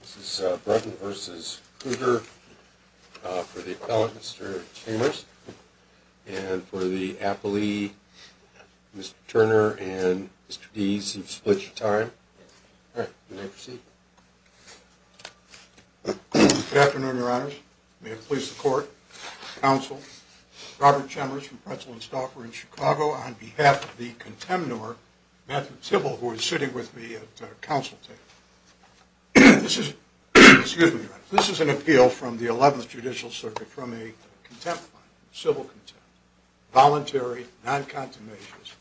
This is Brunton v. Kruger. For the appellate, Mr. Chambers. And for the appellee, Mr. Turner and Mr. Deese, you've split your time. All right, you may proceed. Good afternoon, Your Honors. May it please the Court, Counsel, Robert Chambers from Pretzel & Stauffer in Chicago, on behalf of the contemnor, Matthew Tibble, who is sitting with me at counsel table. This is an appeal from the 11th Judicial Circuit from a contempt line, civil contempt. Voluntary, non-contemptuous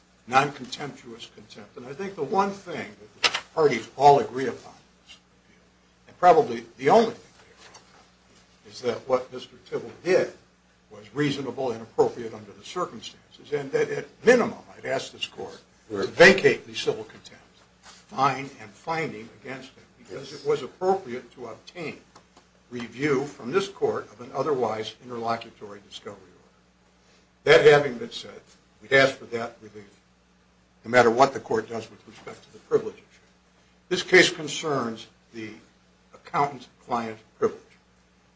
contempt. And I think the one thing that the parties all agree upon, and probably the only thing they agree upon, is that what Mr. Tibble did was reasonable and appropriate under the circumstances. And that, at minimum, I'd ask this Court to vacate the civil contempt line and finding against him, because it was appropriate to obtain review from this Court of an otherwise interlocutory discovery order. That having been said, we'd ask for that review, no matter what the Court does with respect to the privileges. This case concerns the accountant-client privilege.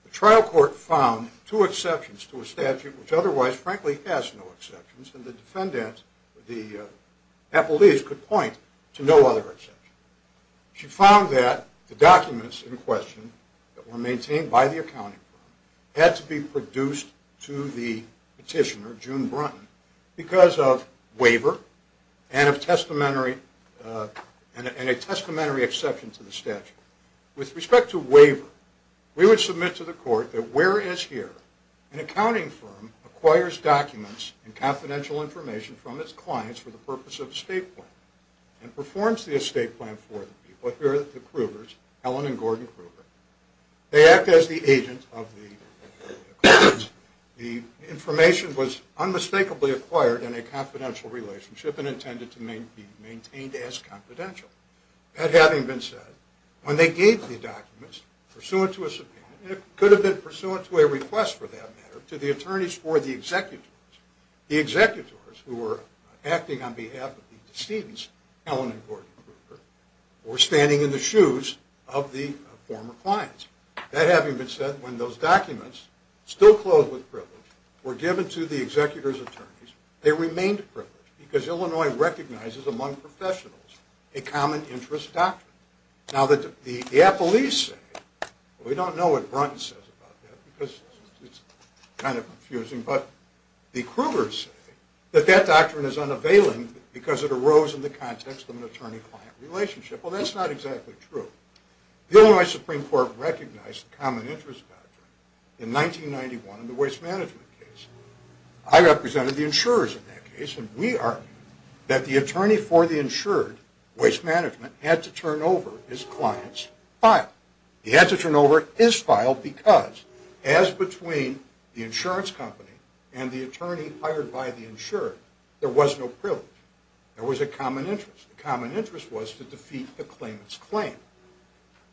The trial court found two exceptions to a statute which otherwise, frankly, has no exceptions, and the defendant, the appellees, could point to no other exception. She found that the documents in question that were maintained by the accounting firm had to be produced to the petitioner, June Brunton, because of waiver and a testamentary exception to the statute. With respect to waiver, we would submit to the Court that, whereas here, an accounting firm acquires documents and confidential information from its clients for the purpose of an estate plan and performs the estate plan for the people, here are the Krugers, Helen and Gordon Kruger. They act as the agent of the client. The information was unmistakably acquired in a confidential relationship and intended to be maintained as confidential. That having been said, when they gave the documents, pursuant to a subpoena, and it could have been pursuant to a request for that matter, to the attorneys or the executors, the executors, who were acting on behalf of the decedents, Helen and Gordon Kruger, were standing in the shoes of the former clients. That having been said, when those documents, still clothed with privilege, were given to the executors' attorneys, they remained privileged because Illinois recognizes among professionals a common interest doctrine. Now, the Appellees say, we don't know what Brunton says about that because it's kind of confusing, but the Krugers say that that doctrine is unavailing because it arose in the context of an attorney-client relationship. Well, that's not exactly true. The Illinois Supreme Court recognized the common interest doctrine in 1991 in the waste management case. I represented the insurers in that case, and we argued that the attorney for the insured, waste management, had to turn over his client's file. He had to turn over his file because, as between the insurance company and the attorney hired by the insured, there was no privilege. There was a common interest. The common interest was to defeat the claimant's claim.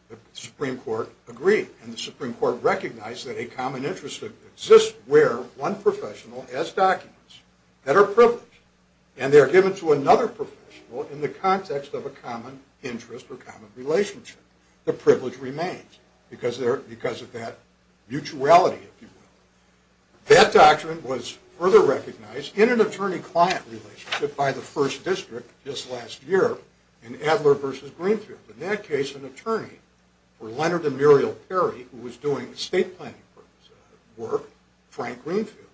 The Supreme Court agreed, and the Supreme Court recognized that a common interest exists where one professional has documents that are privileged, and they are given to another professional in the context of a common interest or common relationship. The privilege remains because of that mutuality, if you will. That doctrine was further recognized in an attorney-client relationship by the First District just last year in Adler v. Greenfield. In that case, an attorney for Leonard and Muriel Perry, who was doing estate planning work, Frank Greenfield,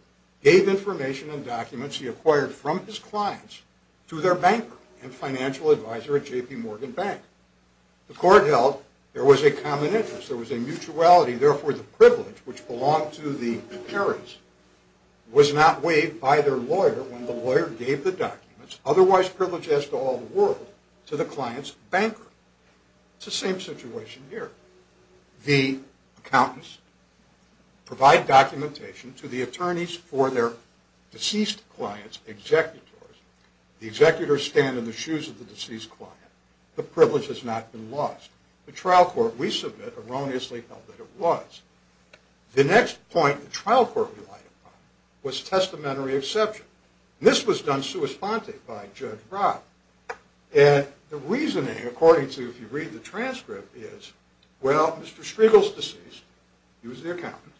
gave information and documents he acquired from his clients to their banker and financial advisor at J.P. Morgan Bank. The court held there was a common interest. There was a mutuality. Therefore, the privilege, which belonged to the Perrys, was not waived by their lawyer when the lawyer gave the documents, otherwise privileged as to all the world, to the client's banker. It's the same situation here. The accountants provide documentation to the attorneys for their deceased client's executors. The executors stand in the shoes of the deceased client. The privilege has not been lost. The trial court, we submit, erroneously held that it was. The next point the trial court relied upon was testamentary exception. This was done sua sponte by Judge Robb. And the reasoning, according to if you read the transcript, is, well, Mr. Striegel's deceased. He was the accountant.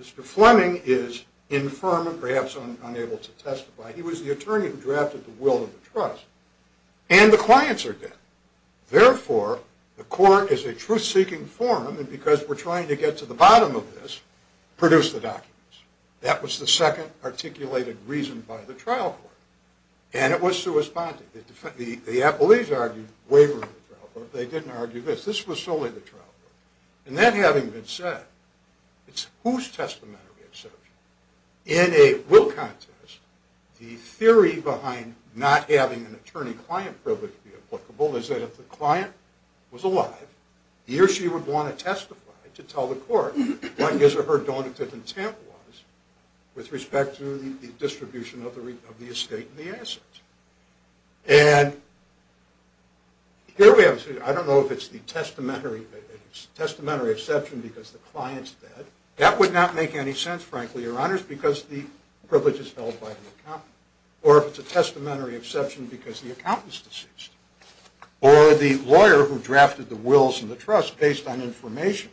Mr. Fleming is infirm and perhaps unable to testify. He was the attorney who drafted the will of the trust. And the clients are dead. Therefore, the court is a truth-seeking forum, and because we're trying to get to the bottom of this, produced the documents. That was the second articulated reason by the trial court. And it was sua sponte. The appellees argued wavering the trial court. They didn't argue this. This was solely the trial court. And that having been said, it's whose testamentary exception? In a will contest, the theory behind not having an attorney-client privilege be applicable is that if the client was alive, he or she would want to testify to tell the court what his or her donative intent was with respect to the distribution of the estate and the assets. And here we have a situation. I don't know if it's the testamentary exception because the client's dead. That would not make any sense, frankly, Your Honors, because the privilege is held by the accountant. Or if it's a testamentary exception because the accountant's deceased. Or the lawyer who drafted the wills and the trust based on information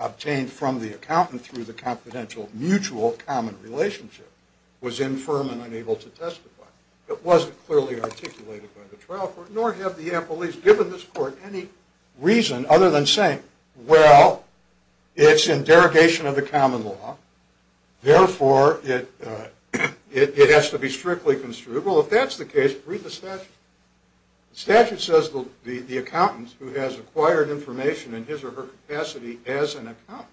obtained from the accountant through the confidential mutual common relationship was infirm and unable to testify. It wasn't clearly articulated by the trial court, nor have the appellees given this court any reason other than saying, well, it's in derogation of the common law, therefore it has to be strictly construed. Well, if that's the case, read the statute. The statute says the accountant who has acquired information in his or her capacity as an accountant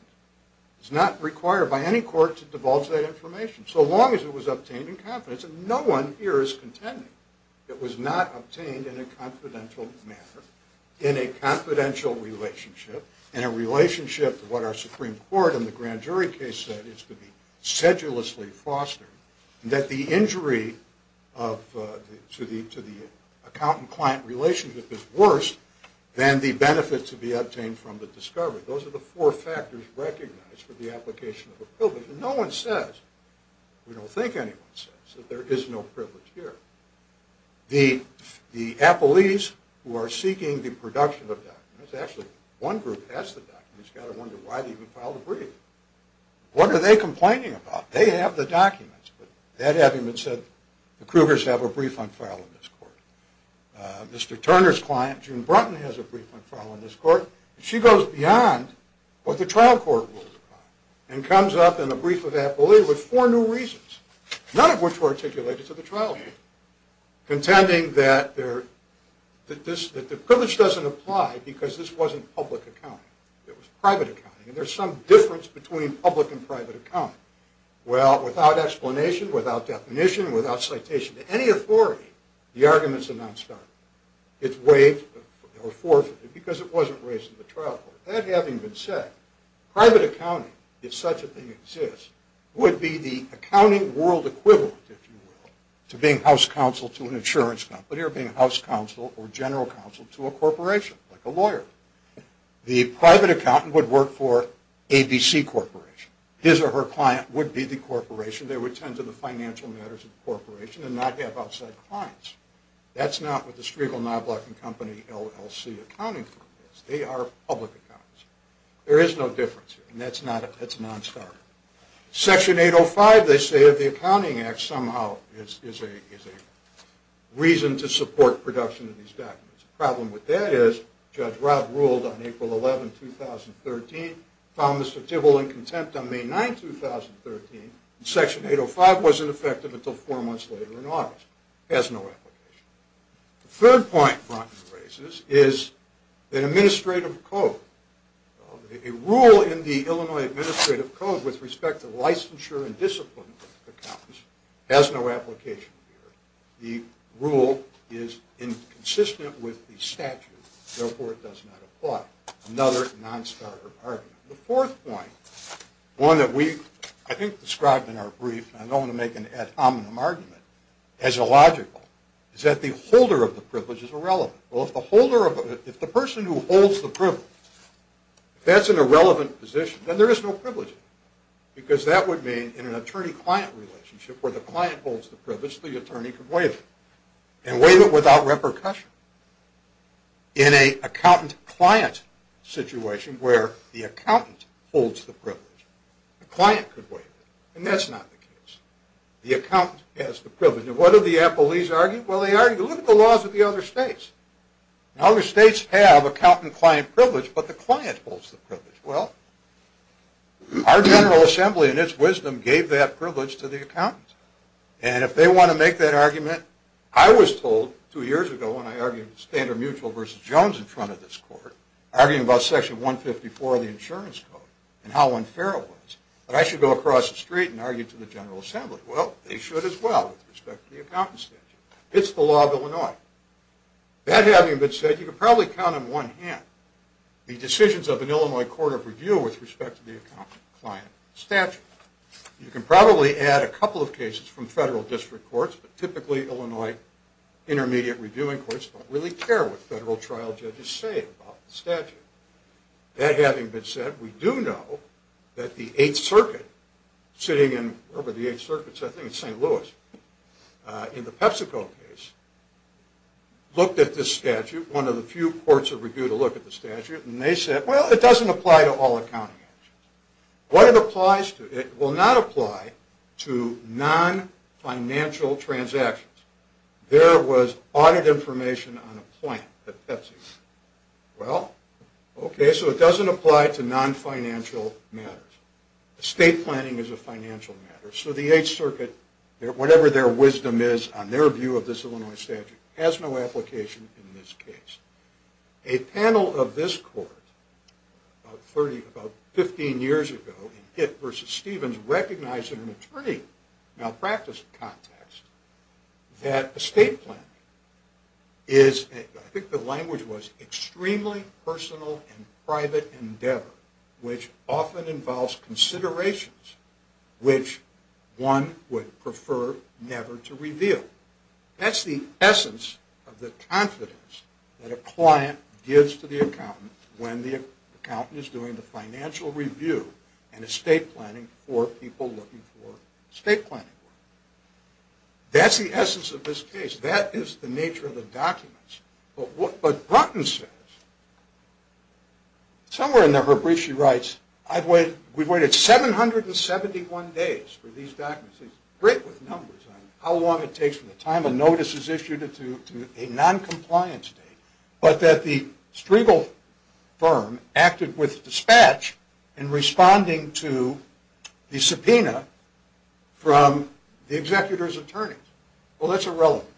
is not required by any court to divulge that information, so long as it was obtained in confidence. And no one here is contending it was not obtained in a confidential manner, in a confidential relationship, in a relationship to what our Supreme Court in the grand jury case said is to be sedulously fostered, that the injury to the accountant-client relationship is worse than the benefit to be obtained from the discovery. Those are the four factors recognized for the application of a privilege. And no one says, we don't think anyone says, that there is no privilege here. The appellees who are seeking the production of documents, actually one group has the documents. You've got to wonder why they even filed a brief. What are they complaining about? They have the documents, but that having been said, the Krugers have a brief unfiled in this court. Mr. Turner's client, June Brunton, has a brief unfiled in this court. She goes beyond what the trial court ruled upon and comes up in a brief of appellee with four new reasons, none of which were articulated to the trial court, contending that the privilege doesn't apply because this wasn't public accounting. It was private accounting, and there's some difference between public and private accounting. Well, without explanation, without definition, without citation to any authority, the arguments are not started. It's waived or forfeited because it wasn't raised in the trial court. That having been said, private accounting, if such a thing exists, would be the accounting world equivalent, if you will, to being house counsel to an insurance company or being house counsel or general counsel to a corporation, like a lawyer. The private accountant would work for ABC Corporation. His or her client would be the corporation. They would tend to the financial matters of the corporation and not have outside clients. That's not what the Striegel Knobloch & Company LLC accounting firm is. They are public accountants. There is no difference here, and that's non-starter. Section 805, they say, of the Accounting Act somehow is a reason to support production of these documents. The problem with that is Judge Robb ruled on April 11, 2013, found Mr. Tibble in contempt on May 9, 2013, and Section 805 wasn't effective until four months later in August. It has no application. The third point Bronten raises is an administrative code. A rule in the Illinois Administrative Code with respect to licensure and discipline of accountants has no application here. The rule is inconsistent with the statute. Therefore, it does not apply. Another non-starter argument. The fourth point, one that we, I think, described in our brief, and I don't want to make an ad hominem argument, as illogical, is that the holder of the privilege is irrelevant. Well, if the person who holds the privilege, if that's an irrelevant position, then there is no privilege. Because that would mean in an attorney-client relationship where the client holds the privilege, the attorney could waive it. And waive it without repercussion. In an accountant-client situation where the accountant holds the privilege, the client could waive it. And that's not the case. The accountant has the privilege. And what do the employees argue? Well, they argue, look at the laws of the other states. Well, our General Assembly, in its wisdom, gave that privilege to the accountants. And if they want to make that argument, I was told two years ago when I argued Standard Mutual v. Jones in front of this court, arguing about Section 154 of the Insurance Code and how unfair it was, that I should go across the street and argue to the General Assembly. Well, they should as well with respect to the accountant statute. It's the law of Illinois. That having been said, you can probably count on one hand. The decisions of an Illinois court of review with respect to the accountant-client statute. You can probably add a couple of cases from federal district courts, but typically Illinois intermediate reviewing courts don't really care what federal trial judges say about the statute. That having been said, we do know that the Eighth Circuit, sitting in, where were the Eighth Circuits? I think it's St. Louis, in the PepsiCo case, looked at this statute, one of the few courts of review to look at the statute, and they said, well, it doesn't apply to all accounting actions. What it applies to, it will not apply to non-financial transactions. There was audit information on a plant at PepsiCo. Well, okay, so it doesn't apply to non-financial matters. Estate planning is a financial matter. So the Eighth Circuit, whatever their wisdom is on their view of this Illinois statute, has no application in this case. A panel of this court about 15 years ago in Hitt v. Stevens recognized in an attorney malpractice context that estate planning is, I think the language was, extremely personal and private endeavor, which often involves considerations which one would prefer never to reveal. That's the essence of the confidence that a client gives to the accountant when the accountant is doing the financial review and estate planning for people looking for estate planning work. That's the essence of this case. That is the nature of the documents. But Brunton says, somewhere in her brief she writes, we've waited 771 days for these documents. She's great with numbers on how long it takes from the time a notice is issued to a noncompliance date, but that the Striegel firm acted with dispatch in responding to the subpoena from the executor's attorneys. Well, that's irrelevant.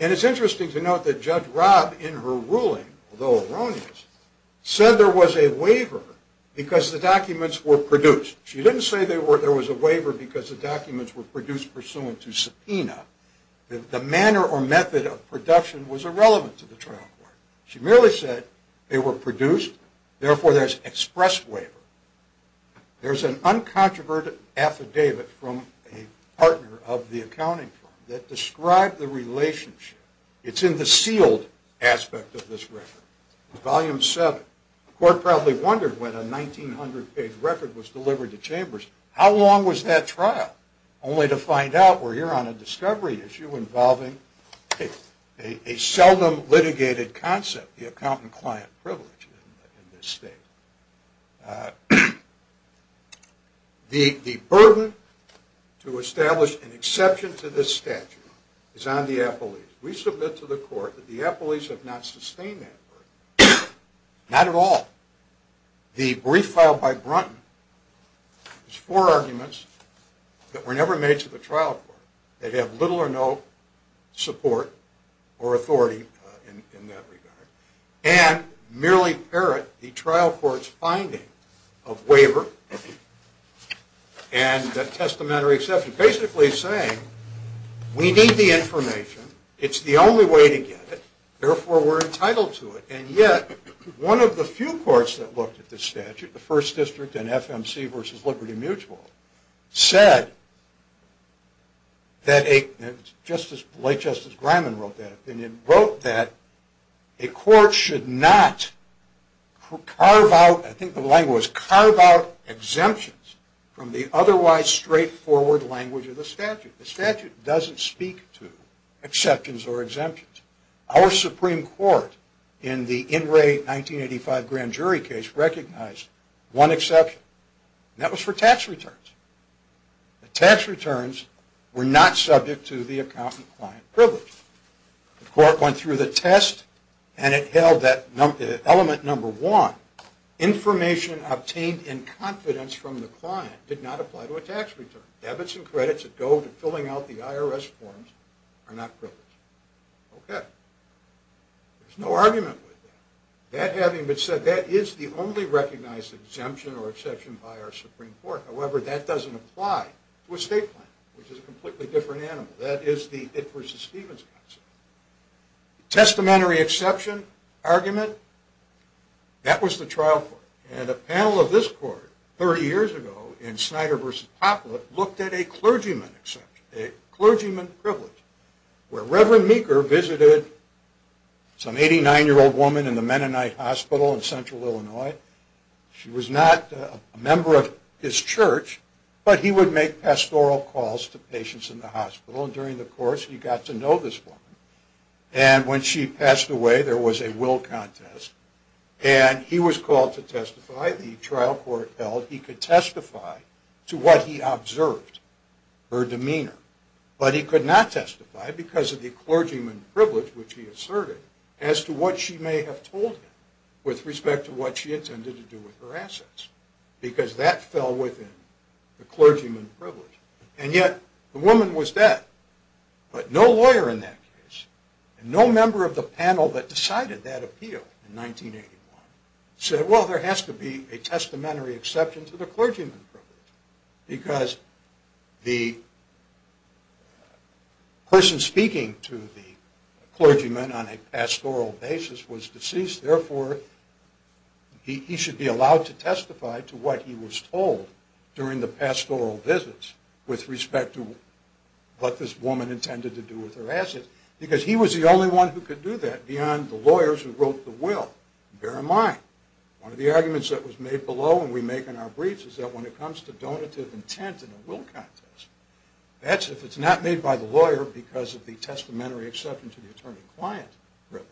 And it's interesting to note that Judge Robb, in her ruling, although erroneous, said there was a waiver because the documents were produced. She didn't say there was a waiver because the documents were produced pursuant to subpoena. The manner or method of production was irrelevant to the trial court. She merely said they were produced, therefore there's express waiver. There's an uncontroverted affidavit from a partner of the accounting firm that described the relationship. It's in the sealed aspect of this record, Volume 7. The court probably wondered when a 1900-page record was delivered to Chambers, how long was that trial? Only to find out we're here on a discovery issue involving a seldom litigated concept, the accountant-client privilege in this state. The burden to establish an exception to this statute is on the appellees. We submit to the court that the appellees have not sustained that burden. Not at all. The brief filed by Brunton is four arguments that were never made to the trial court. They have little or no support or authority in that regard. And merely parrot the trial court's finding of waiver and the testamentary exception. Basically saying, we need the information, it's the only way to get it, therefore we're entitled to it. And yet, one of the few courts that looked at this statute, the First District and FMC versus Liberty Mutual, said that a court should not carve out exemptions from the otherwise straightforward language of the statute. The statute doesn't speak to exceptions or exemptions. Our Supreme Court, in the In Re. 1985 grand jury case, recognized one exception, and that was for tax returns. Tax returns were not subject to the accountant-client privilege. The court went through the test and it held that element number one, information obtained in confidence from the client did not apply to a tax return. Debits and credits that go to filling out the IRS forms are not privileged. Okay. There's no argument with that. That having been said, that is the only recognized exemption or exception by our Supreme Court. However, that doesn't apply to a state plan, which is a completely different animal. That is the It v. Stevens concept. Testamentary exception argument, that was the trial court. And a panel of this court, 30 years ago, in Snyder v. Poplar, looked at a clergyman exemption, a clergyman privilege, where Reverend Meeker visited some 89-year-old woman in the Mennonite Hospital in central Illinois. She was not a member of his church, but he would make pastoral calls to patients in the hospital. And during the course, he got to know this woman. And when she passed away, there was a will contest. And he was called to testify. The trial court held he could testify to what he observed, her demeanor. But he could not testify because of the clergyman privilege, which he asserted, as to what she may have told him with respect to what she intended to do with her assets. Because that fell within the clergyman privilege. And yet, the woman was dead. But no lawyer in that case, and no member of the panel that decided that appeal in 1981, said, well, there has to be a testamentary exception to the clergyman privilege. Because the person speaking to the clergyman on a pastoral basis was deceased. Therefore, he should be allowed to testify to what he was told during the pastoral visits with respect to what this woman intended to do with her assets. Because he was the only one who could do that beyond the lawyers who wrote the will. Bear in mind, one of the arguments that was made below and we make in our briefs is that when it comes to donative intent in a will contest, that's if it's not made by the lawyer because of the testamentary exception to the attorney-client privilege.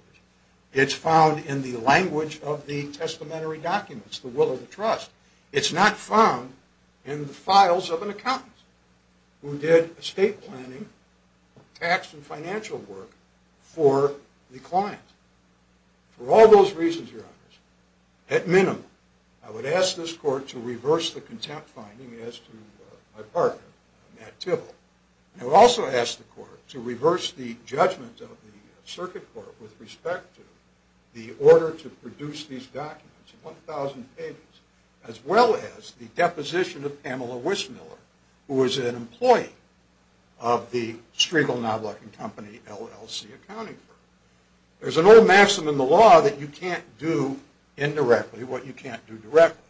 It's found in the language of the testamentary documents, the will of the trust. It's not found in the files of an accountant who did estate planning, tax, and financial work for the client. For all those reasons, your honors, at minimum, I would ask this court to reverse the contempt finding as to my partner, Matt Tibble. And I would also ask the court to reverse the judgment of the circuit court with respect to the order to produce these documents, 1,000 pages, as well as the deposition of Pamela Wismiller, who was an employee of the Striegel Knobloch & Company LLC accounting firm. There's an old maxim in the law that you can't do indirectly what you can't do directly.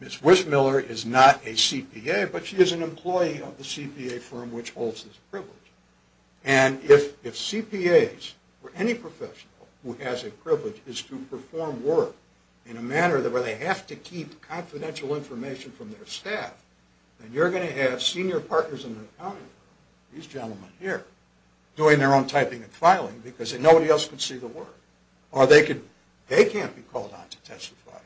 Ms. Wismiller is not a CPA, but she is an employee of the CPA firm which holds this privilege. And if CPAs or any professional who has a privilege is to perform work in a manner where they have to keep confidential information from their staff, then you're going to have senior partners in the accounting firm, these gentlemen here, doing their own typing and filing because nobody else can see the work. Or they can't be called on to testify,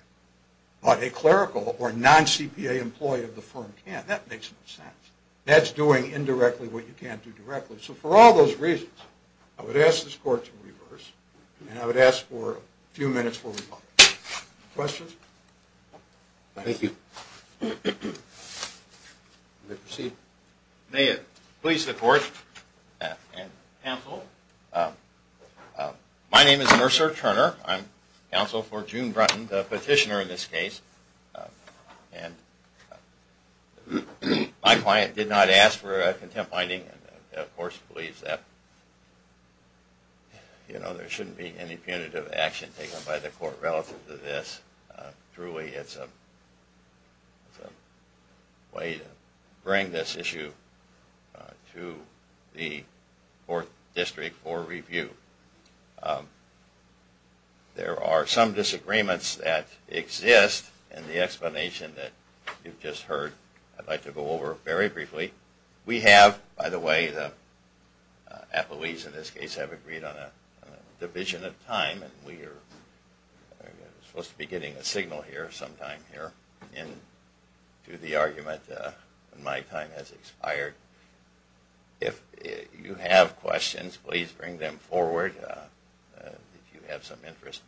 but a clerical or non-CPA employee of the firm can. That makes no sense. That's doing indirectly what you can't do directly. So for all those reasons, I would ask this court to reverse. And I would ask for a few minutes for rebuttal. Questions? Thank you. You may proceed. May it please the court and counsel, my name is Mercer Turner. I'm counsel for June Brunton, the petitioner in this case. And my client did not ask for a contempt finding and of course believes that there shouldn't be any punitive action taken by the court relative to this. Truly it's a way to bring this issue to the 4th District for review. There are some disagreements that exist and the explanation that you've just heard I'd like to go over very briefly. We have, by the way, the employees in this case have agreed on a division of time and we are supposed to be getting a signal here sometime here to the argument. My time has expired. If you have questions, please bring them forward if you have some interest.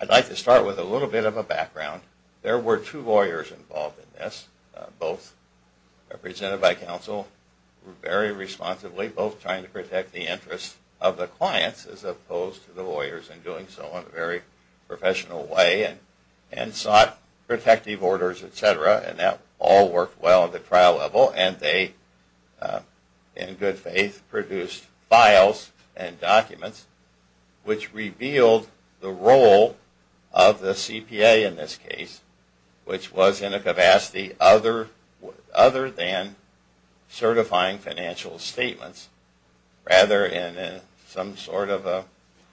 I'd like to start with a little bit of a background. There were two lawyers involved in this, both represented by counsel very responsibly, both trying to protect the interests of the clients as opposed to the lawyers and doing so in a very professional way and sought protective orders, etc. And that all worked well at the trial level and they, in good faith, produced files and documents which revealed the role of the CPA in this case, which was in a capacity other than certifying financial statements, rather in some sort of a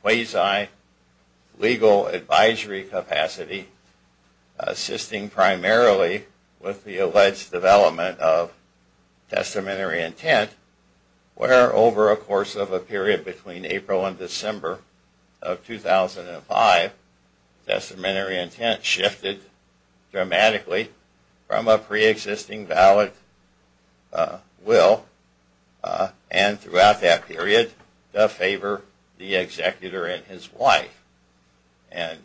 quasi-legal advisory capacity, assisting primarily with the alleged development of testamentary intent where over a course of a period between April and December of 2005, testamentary intent shifted dramatically from a pre-existing valid will and throughout that period to favor the executor and his wife. And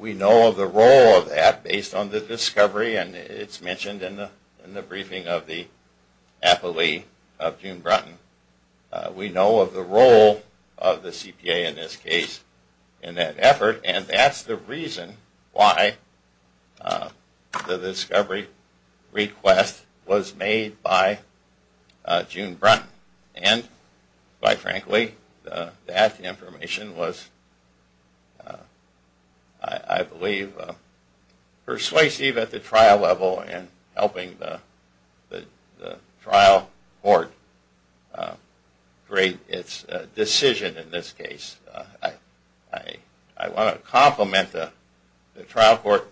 we know of the role of that based on the discovery and it's mentioned in the briefing of the appellee of June Brunton. We know of the role of the CPA in this case in that effort and that's the reason why the discovery request was made by June Brunton. And, quite frankly, that information was, I believe, persuasive at the trial level in helping the trial court grade its decision in this case. I want to compliment the trial court.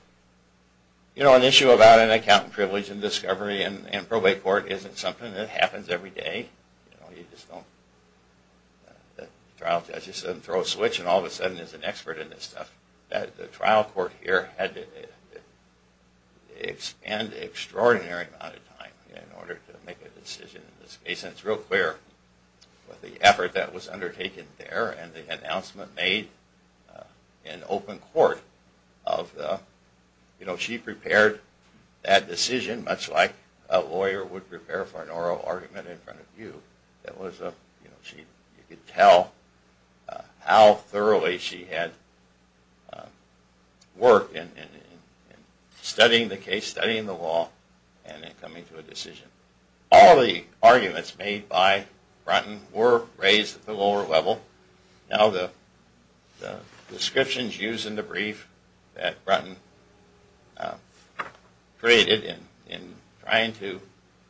You know, an issue about an accountant privilege and discovery and probate court isn't something that happens every day. You just don't – the trial judge doesn't throw a switch and all of a sudden there's an expert in this stuff. The trial court here had to expend an extraordinary amount of time in order to make a decision in this case. And it's real clear with the effort that was undertaken there and the announcement made in open court. She prepared that decision much like a lawyer would prepare for an oral argument in front of you. You could tell how thoroughly she had worked in studying the case, studying the law, and coming to a decision. All of the arguments made by Brunton were raised at the lower level. Now, the descriptions used in the brief that Brunton created in trying to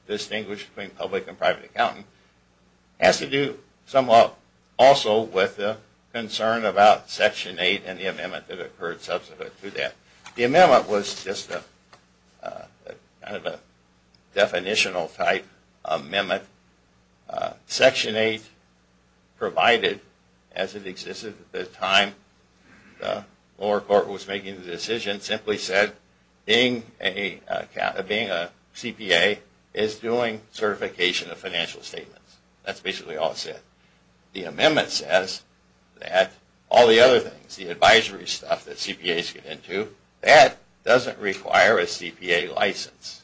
distinguish between public and private accountant has to do somewhat also with the concern about Section 8 and the amendment that occurred subsequent to that. The amendment was just kind of a definitional type amendment. Section 8 provided, as it existed at the time the lower court was making the decision, simply said being a CPA is doing certification of financial statements. That's basically all it said. The amendment says that all the other things, the advisory stuff that CPAs get into, that doesn't require a CPA license.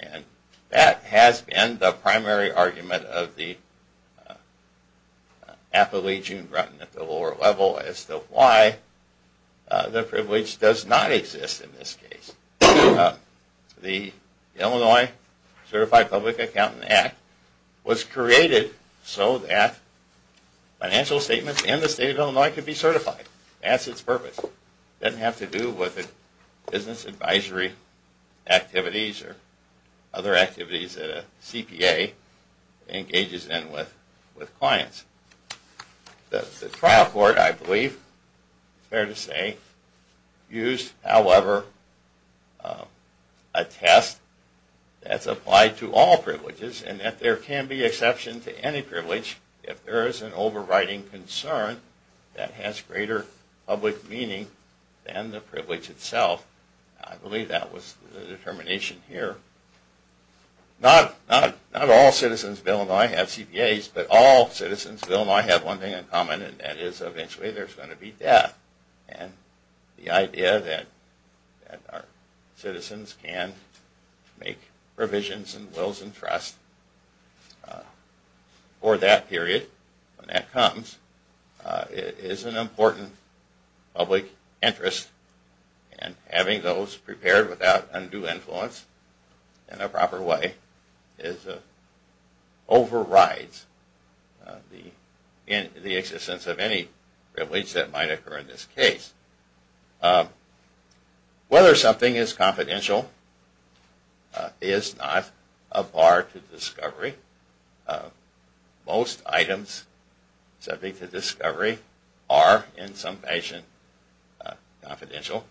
And that has been the primary argument of the appellee, June Brunton, at the lower level as to why the privilege does not exist in this case. The Illinois Certified Public Accountant Act was created so that financial statements in the state of Illinois could be certified. That's its purpose. It doesn't have to do with business advisory activities or other activities that a CPA engages in with clients. The trial court, I believe it's fair to say, used, however, a test that's applied to all privileges and that there can be exception to any privilege if there is an overriding concern that has greater public meaning than the privilege itself. I believe that was the determination here. Not all citizens of Illinois have CPAs, but all citizens of Illinois have one thing in common and that is eventually there's going to be death. And the idea that our citizens can make provisions and wills and trusts for that period, when that comes, is an important public interest. And having those prepared without undue influence in a proper way overrides the existence of any privilege that might occur in this case. Whether something is confidential is not a bar to discovery. Most items subject to discovery are, in some fashion, confidential.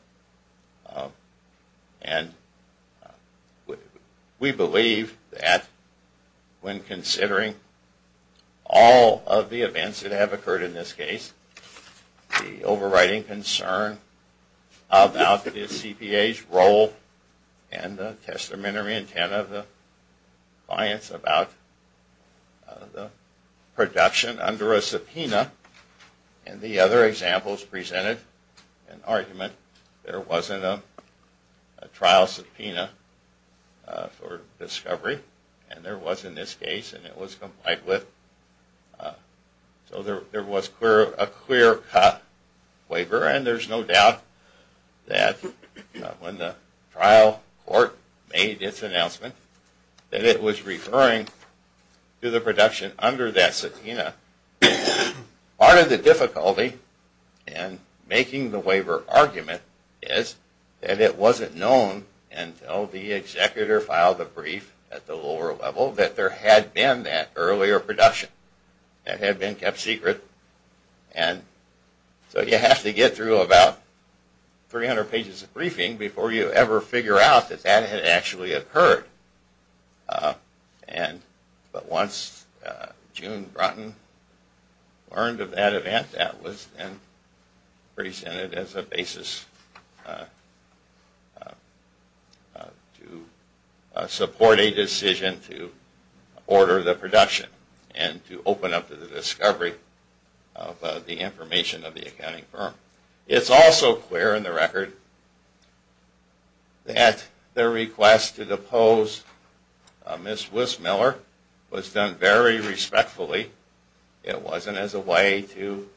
And we believe that when considering all of the events that have occurred in this case, the overriding concern about the CPA's role and the testamentary intent of the clients about the production under a subpoena and the other examples presented an argument there wasn't a trial subpoena for discovery and there was in this case and it was complied with. So there was a clear cut waiver and there's no doubt that when the trial court made its announcement that it was referring to the production under that subpoena. Part of the difficulty in making the waiver argument is that it wasn't known until the executor filed a brief at the lower level that there had been that earlier production that had been kept secret. And so you have to get through about 300 pages of briefing before you ever figure out that that had actually occurred. But once June Brunton learned of that event, that was then presented as a basis to support a decision to order the production and to open up to the discovery of the information of the accounting firm. It's also clear in the record that the request to depose Ms. Wissmiller was done very respectfully. It wasn't as a way to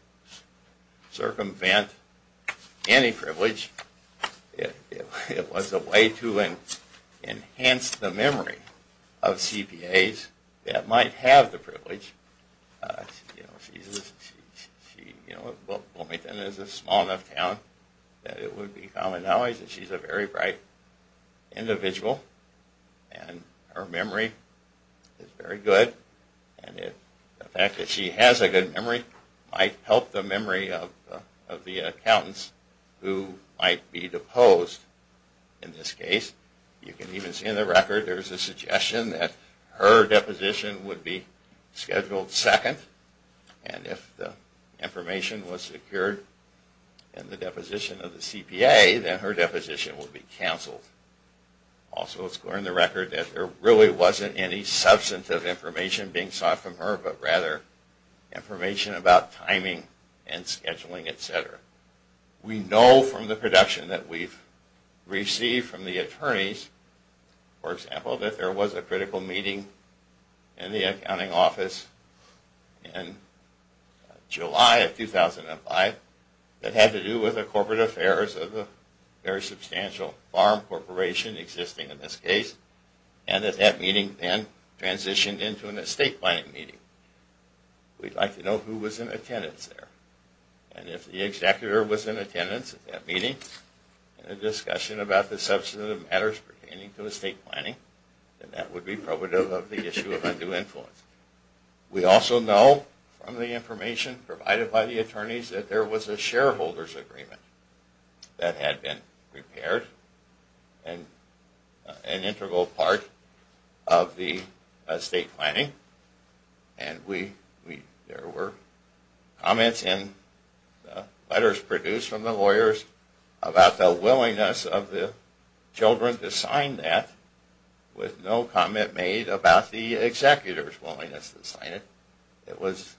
circumvent any privilege. It was a way to enhance the memory of CPAs that might have the privilege. Bloomington is a small enough town that it would be common knowledge that she's a very bright individual and her memory is very good and the fact that she has a good memory might help the memory of the accountants who might be deposed in this case. You can even see in the record there's a suggestion that her deposition would be scheduled second and if the information was secured in the deposition of the CPA then her deposition would be canceled. Also it's clear in the record that there really wasn't any substantive information being sought from her but rather information about timing and scheduling, etc. We know from the production that we've received from the attorneys, for example, that there was a critical meeting in the accounting office in July of 2005 that had to do with the corporate affairs of a very substantial farm corporation existing in this case and that that meeting then transitioned into an estate planning meeting. We'd like to know who was in attendance there and if the executor was in attendance at that meeting in a discussion about the substantive matters pertaining to estate planning then that would be probative of the issue of undue influence. We also know from the information provided by the attorneys that there was a shareholder's agreement that had been prepared and an integral part of the estate planning and there were comments in letters produced from the lawyers about the willingness of the children to sign that with no comment made about the executor's willingness. It was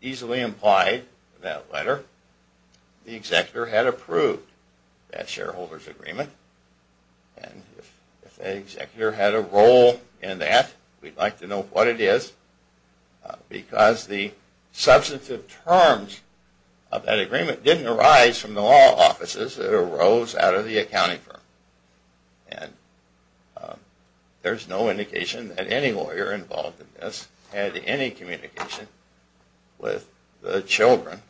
easily implied in that letter that the executor had approved that shareholder's agreement and if the executor had a role in that we'd like to know what it is because the substantive terms of that agreement didn't arise from the law offices that arose out of the accounting firm. And there's no indication that any lawyer involved in this had any communication with the children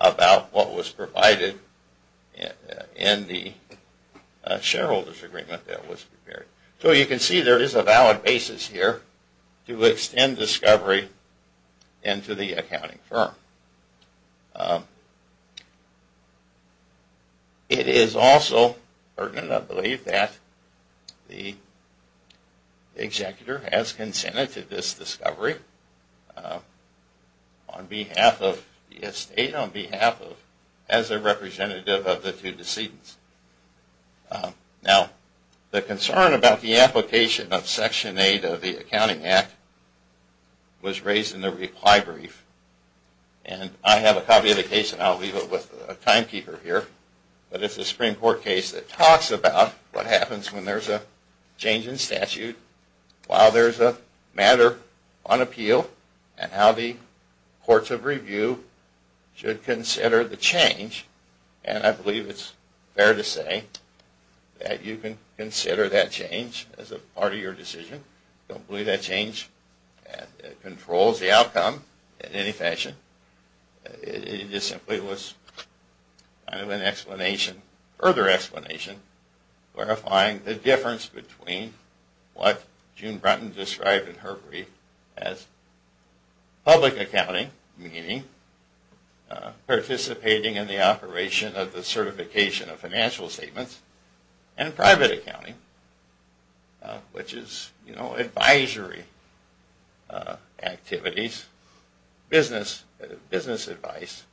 about what was provided in the shareholder's agreement that was prepared. So you can see there is a valid basis here to extend discovery into the accounting firm. It is also pertinent, I believe, that the executor has consented to this discovery on behalf of the estate as a representative of the two decedents. Now the concern about the application of Section 8 of the Accounting Act was raised in the reply brief and I have a copy of the case and I'll leave it with a timekeeper here. But it's a Supreme Court case that talks about what happens when there's a change in statute, why there's a matter on appeal, and how the courts of review should consider the change and I believe it's fair to say that you can consider that change as a part of your decision. I don't believe that change controls the outcome in any fashion. It just simply was kind of an explanation, further explanation, clarifying the difference between what June Brunton described in her brief as public accounting, meaning participating in the operation of the certification of financial statements, and private accounting, which is advisory activities, business advice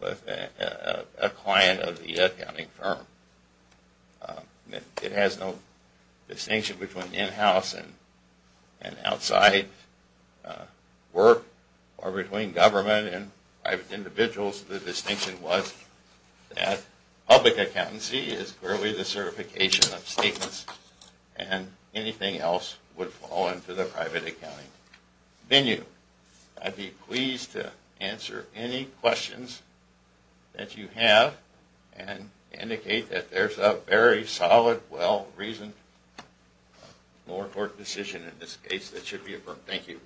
with a client of the accounting firm. It has no distinction between in-house and outside work or between government and private individuals. The distinction was that public accountancy is clearly the certification of statements and anything else would fall into the private accounting venue. I'd be pleased to answer any questions that you have and indicate that there's a very solid, well-reasoned lower court decision in this case that should be affirmed. Thank you.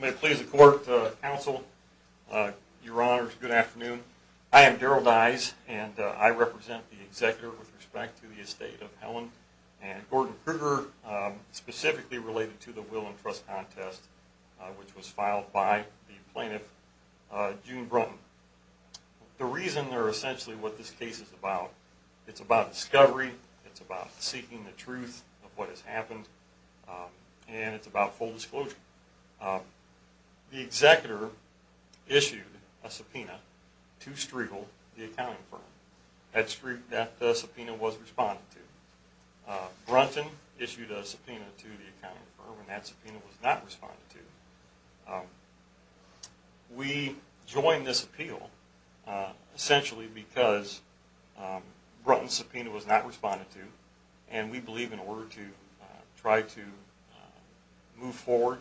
May it please the court, counsel, your honors, good afternoon. I am Darrell Dyes and I represent the executor with respect to the estate of Helen and Gordon Kruger, specifically related to the will and trust contest which was filed by the plaintiff, June Brunton. The reason they're essentially what this case is about, it's about discovery, it's about seeking the truth of what has happened, and it's about full disclosure. The executor issued a subpoena to Striegel, the accounting firm. That subpoena was responded to. Brunton issued a subpoena to the accounting firm and that subpoena was not responded to. We joined this appeal essentially because Brunton's subpoena was not responded to and we believe in order to try to move forward,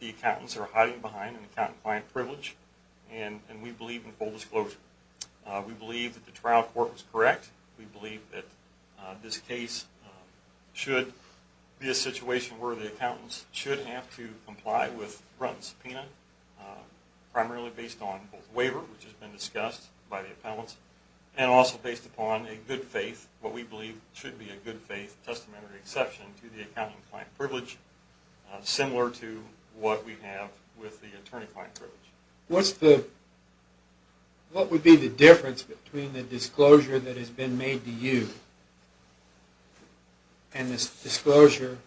the accountants are hiding behind an accountant-client privilege and we believe in full disclosure. We believe that the trial court was correct. We believe that this case should be a situation where the accountants should have to comply with Brunton's subpoena, primarily based on both waiver, which has been discussed by the appellants, and also based upon a good faith, what we believe should be a good faith, testamentary exception to the accounting-client privilege, similar to what we have with the attorney-client privilege. What would be the difference between the disclosure that has been made to you and the disclosure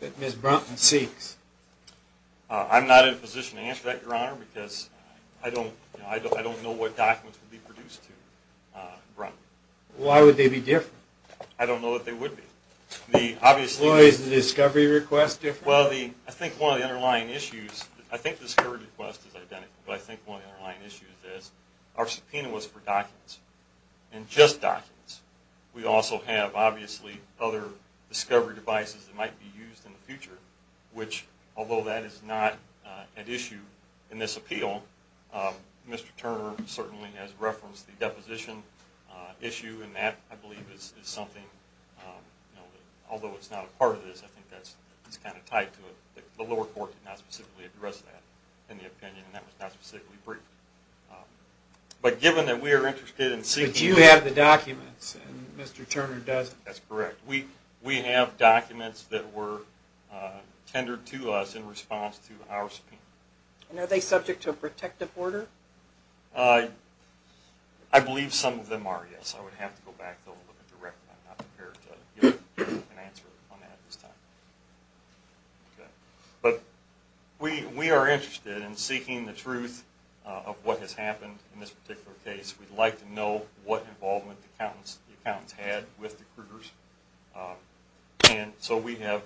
that Ms. Brunton seeks? I'm not in a position to answer that, Your Honor, because I don't know what documents would be produced to Brunton. Why would they be different? I don't know what they would be. Why is the discovery request different? Well, I think one of the underlying issues, I think the discovery request is identical, but I think one of the underlying issues is our subpoena was for documents and just documents. We also have, obviously, other discovery devices that might be used in the future, which, although that is not an issue in this appeal, Mr. Turner certainly has referenced the deposition issue, and that, I believe, is something, although it's not a part of this, I think that's kind of tied to it. The lower court did not specifically address that in the opinion, and that was not specifically briefed. But given that we are interested in seeking... But you have the documents, and Mr. Turner doesn't. That's correct. We have documents that were tendered to us in response to our subpoena. And are they subject to a protective order? I believe some of them are, yes. I would have to go back and look at the record. I'm not prepared to give an answer on that at this time. But we are interested in seeking the truth of what has happened in this particular case. We'd like to know what involvement the accountants had with the cruders. And so we have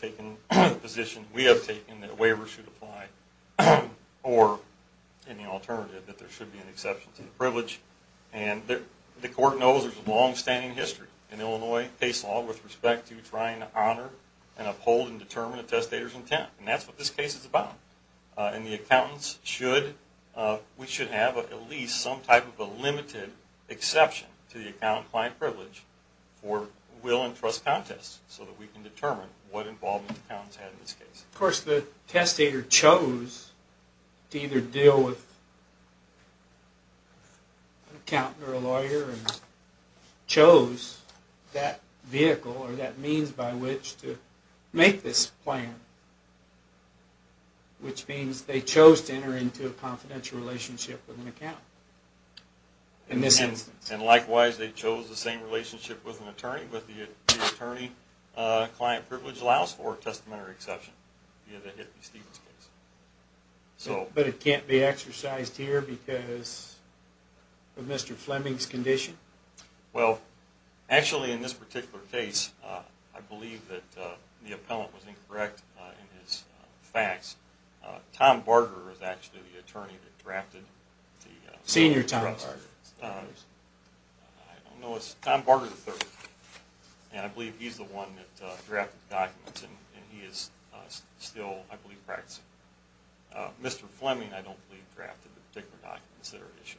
taken the position, we have taken that a waiver should apply, or any alternative that there should be an exception to the privilege. And the court knows there's a long-standing history in Illinois case law with respect to trying to honor and uphold and determine a testator's intent. And that's what this case is about. And the accountants should, we should have at least some type of a limited exception to the accountant-client privilege for will and trust contests, so that we can determine what involvement the accountants had in this case. Of course, the testator chose to either deal with an accountant or a lawyer and chose that vehicle or that means by which to make this plan, which means they chose to enter into a confidential relationship with an account in this instance. And likewise, they chose the same relationship with an attorney, but the attorney-client privilege allows for a testamentary exception. But it can't be exercised here because of Mr. Fleming's condition? Well, actually in this particular case, I believe that the appellant was incorrect in his facts. Tom Barger is actually the attorney that drafted the… Senior Tom Barger. I don't know, it's Tom Barger III. And I believe he's the one that drafted the documents and he is still, I believe, practicing. Mr. Fleming, I don't believe, drafted the particular documents that are issued.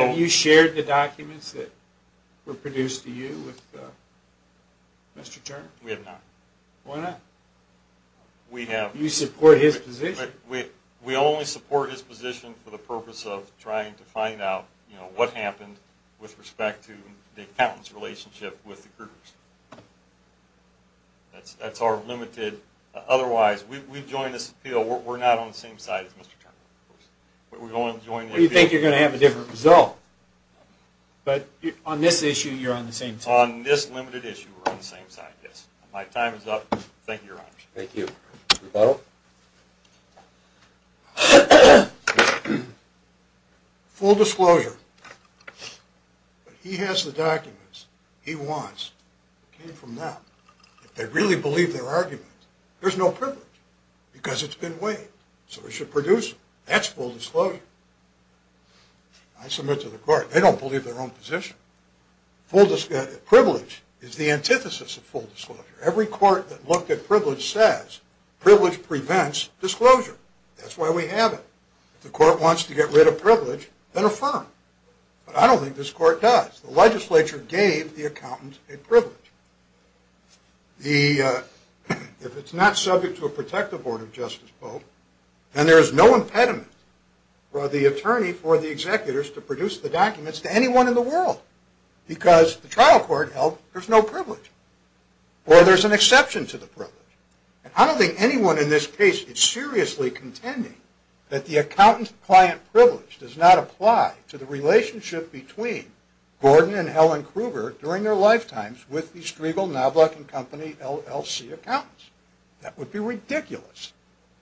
Have you shared the documents that were produced to you with Mr. Turner? We have not. Why not? We have… You support his position. We only support his position for the purpose of trying to find out, you know, what happened with respect to the accountant's relationship with the crews. That's our limited… Otherwise, we've joined this appeal. We're not on the same side as Mr. Turner. You think you're going to have a different result, but on this issue, you're on the same side. On this limited issue, we're on the same side, yes. My time is up. Thank you, Your Honor. Thank you. Rebuttal. Full disclosure. He has the documents he wants. It came from them. If they really believe their argument, there's no privilege because it's been weighed, so we should produce it. That's full disclosure. I submit to the court, they don't believe their own position. Full… Privilege is the antithesis of full disclosure. Every court that looked at privilege says privilege prevents disclosure. That's why we have it. If the court wants to get rid of privilege, then affirm. But I don't think this court does. The legislature gave the accountant a privilege. The… If it's not subject to a protective order, Justice Bolt, then there is no impediment for the attorney, for the executors, to produce the documents to anyone in the world because the trial court held there's no privilege. Or there's an exception to the privilege. And I don't think anyone in this case is seriously contending that the accountant-client privilege does not apply to the relationship between Gordon and Helen Kruger during their lifetimes with the Striegel, Knobloch, and Company LLC accountants. That would be ridiculous.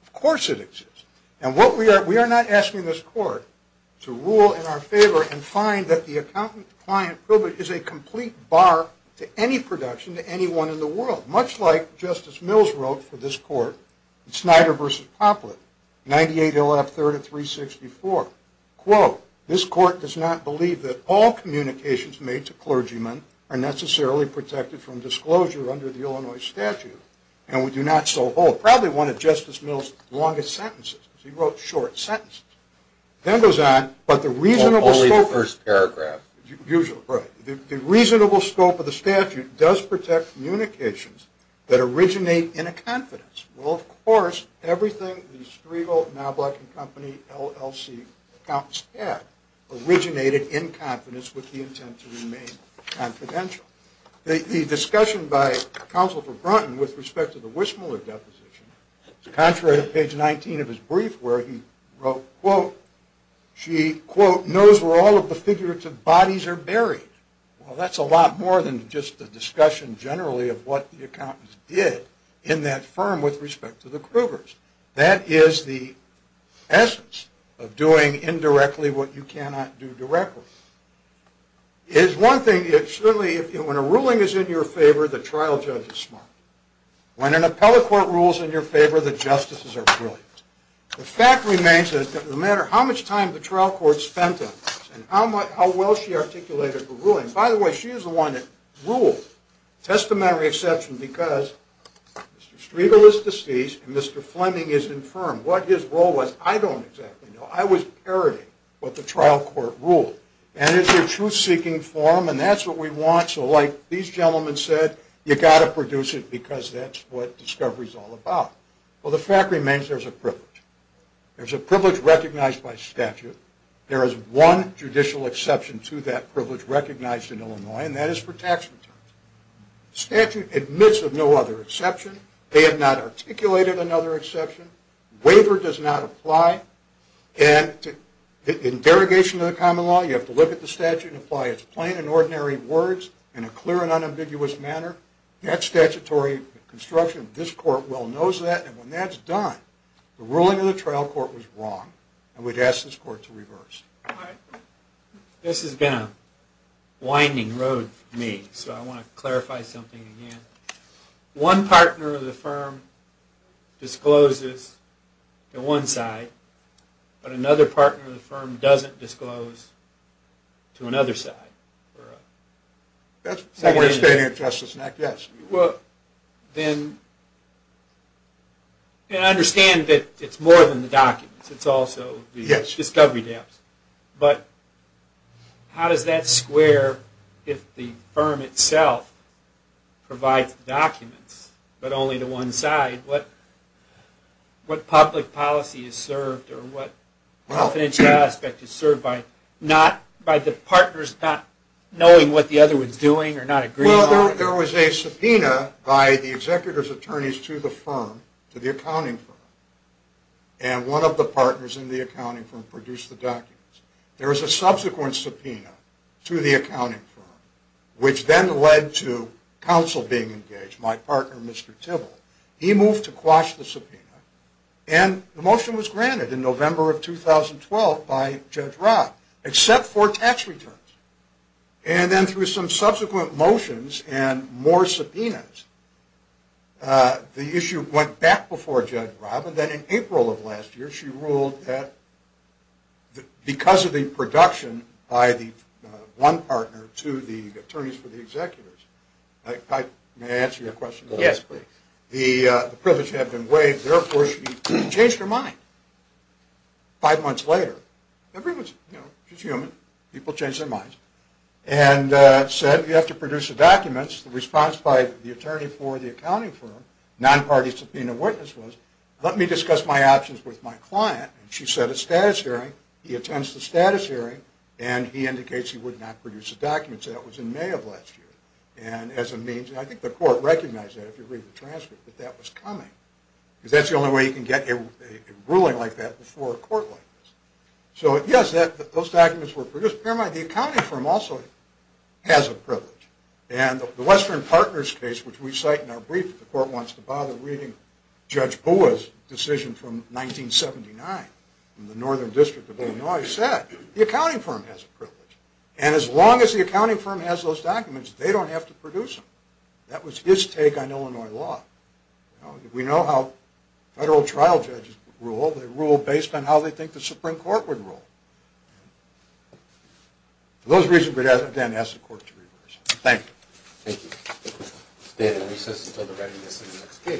Of course it exists. And what we are… We are not asking this court to rule in our favor and find that the accountant-client privilege is a complete bar to any production to anyone in the world, much like Justice Mills wrote for this court in Snyder v. Poplett, 98 LF 3364. Quote, This court does not believe that all communications made to clergymen are necessarily protected from disclosure under the Illinois statute, and we do not so hold. Probably one of Justice Mills' longest sentences because he wrote short sentences. Then it goes on, but the reasonable scope… Only the first paragraph. Usual, right. The reasonable scope of the statute does protect communications that originate in a confidence. Well, of course, everything the Striegel, Knobloch, and Company LLC accountants had originated in confidence with the intent to remain confidential. The discussion by Counsel for Brunton with respect to the Wissmuller deposition, contrary to page 19 of his brief where he wrote, Quote, She, quote, knows where all of the figurative bodies are buried. Well, that's a lot more than just the discussion generally of what the accountants did in that firm with respect to the Krugers. That is the essence of doing indirectly what you cannot do directly. It is one thing, certainly when a ruling is in your favor, the trial judge is smart. When an appellate court rules in your favor, the justices are brilliant. The fact remains that no matter how much time the trial court spent on this and how well she articulated the ruling… By the way, she is the one that ruled, testamentary exception, because Mr. Striegel is deceased and Mr. Fleming is infirm. What his role was, I don't exactly know. I was parodying what the trial court ruled. And it's a truth-seeking forum, and that's what we want. So like these gentlemen said, you've got to produce it because that's what discovery is all about. Well, the fact remains there's a privilege. There's a privilege recognized by statute. There is one judicial exception to that privilege recognized in Illinois, and that is for tax returns. Statute admits of no other exception. They have not articulated another exception. Waiver does not apply. And in derogation of the common law, you have to look at the statute and apply its plain and ordinary words in a clear and unambiguous manner. That statutory construction, this court well knows that, and when that's done, the ruling of the trial court was wrong. And we'd ask this court to reverse. All right. This has been a winding road for me, so I want to clarify something again. One partner of the firm discloses to one side, but another partner of the firm doesn't disclose to another side. That's more of a statement of justice than an act, yes. Well, then, and I understand that it's more than the documents. It's also the discovery debts. But how does that square if the firm itself provides the documents, but only to one side? What public policy is served or what financial aspect is served by the partners not knowing what the other one's doing or not agreeing on it? Well, there was a subpoena by the executor's attorneys to the firm, to the accounting firm, and one of the partners in the accounting firm produced the documents. There was a subsequent subpoena to the accounting firm, which then led to counsel being engaged, my partner, Mr. Tibble. He moved to quash the subpoena, and the motion was granted in November of 2012 by Judge Robb, except for tax returns. And then through some subsequent motions and more subpoenas, the issue went back before Judge Robb, and then in April of last year, she ruled that because of the production by the one partner to the attorneys for the executors. May I answer your question? Yes, please. The privilege had been waived, therefore she changed her mind five months later. Everyone's, you know, she's human. People change their minds. And said, you have to produce the documents. The response by the attorney for the accounting firm, non-party subpoena witness was, let me discuss my options with my client. And she set a status hearing. He attends the status hearing, and he indicates he would not produce the documents. That was in May of last year. And as a means, and I think the court recognized that if you read the transcript, that that was coming. Because that's the only way you can get a ruling like that before a court like this. So yes, those documents were produced. Bear in mind, the accounting firm also has a privilege. And the Western Partners case, which we cite in our brief that the court wants to bother reading, Judge Bua's decision from 1979 in the Northern District of Illinois, said the accounting firm has a privilege. And as long as the accounting firm has those documents, they don't have to produce them. That was his take on Illinois law. We know how federal trial judges rule. They rule based on how they think the Supreme Court would rule. For those reasons, we again ask the court to reverse. Thank you. Thank you. Stay in recess until the readiness of the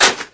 next case.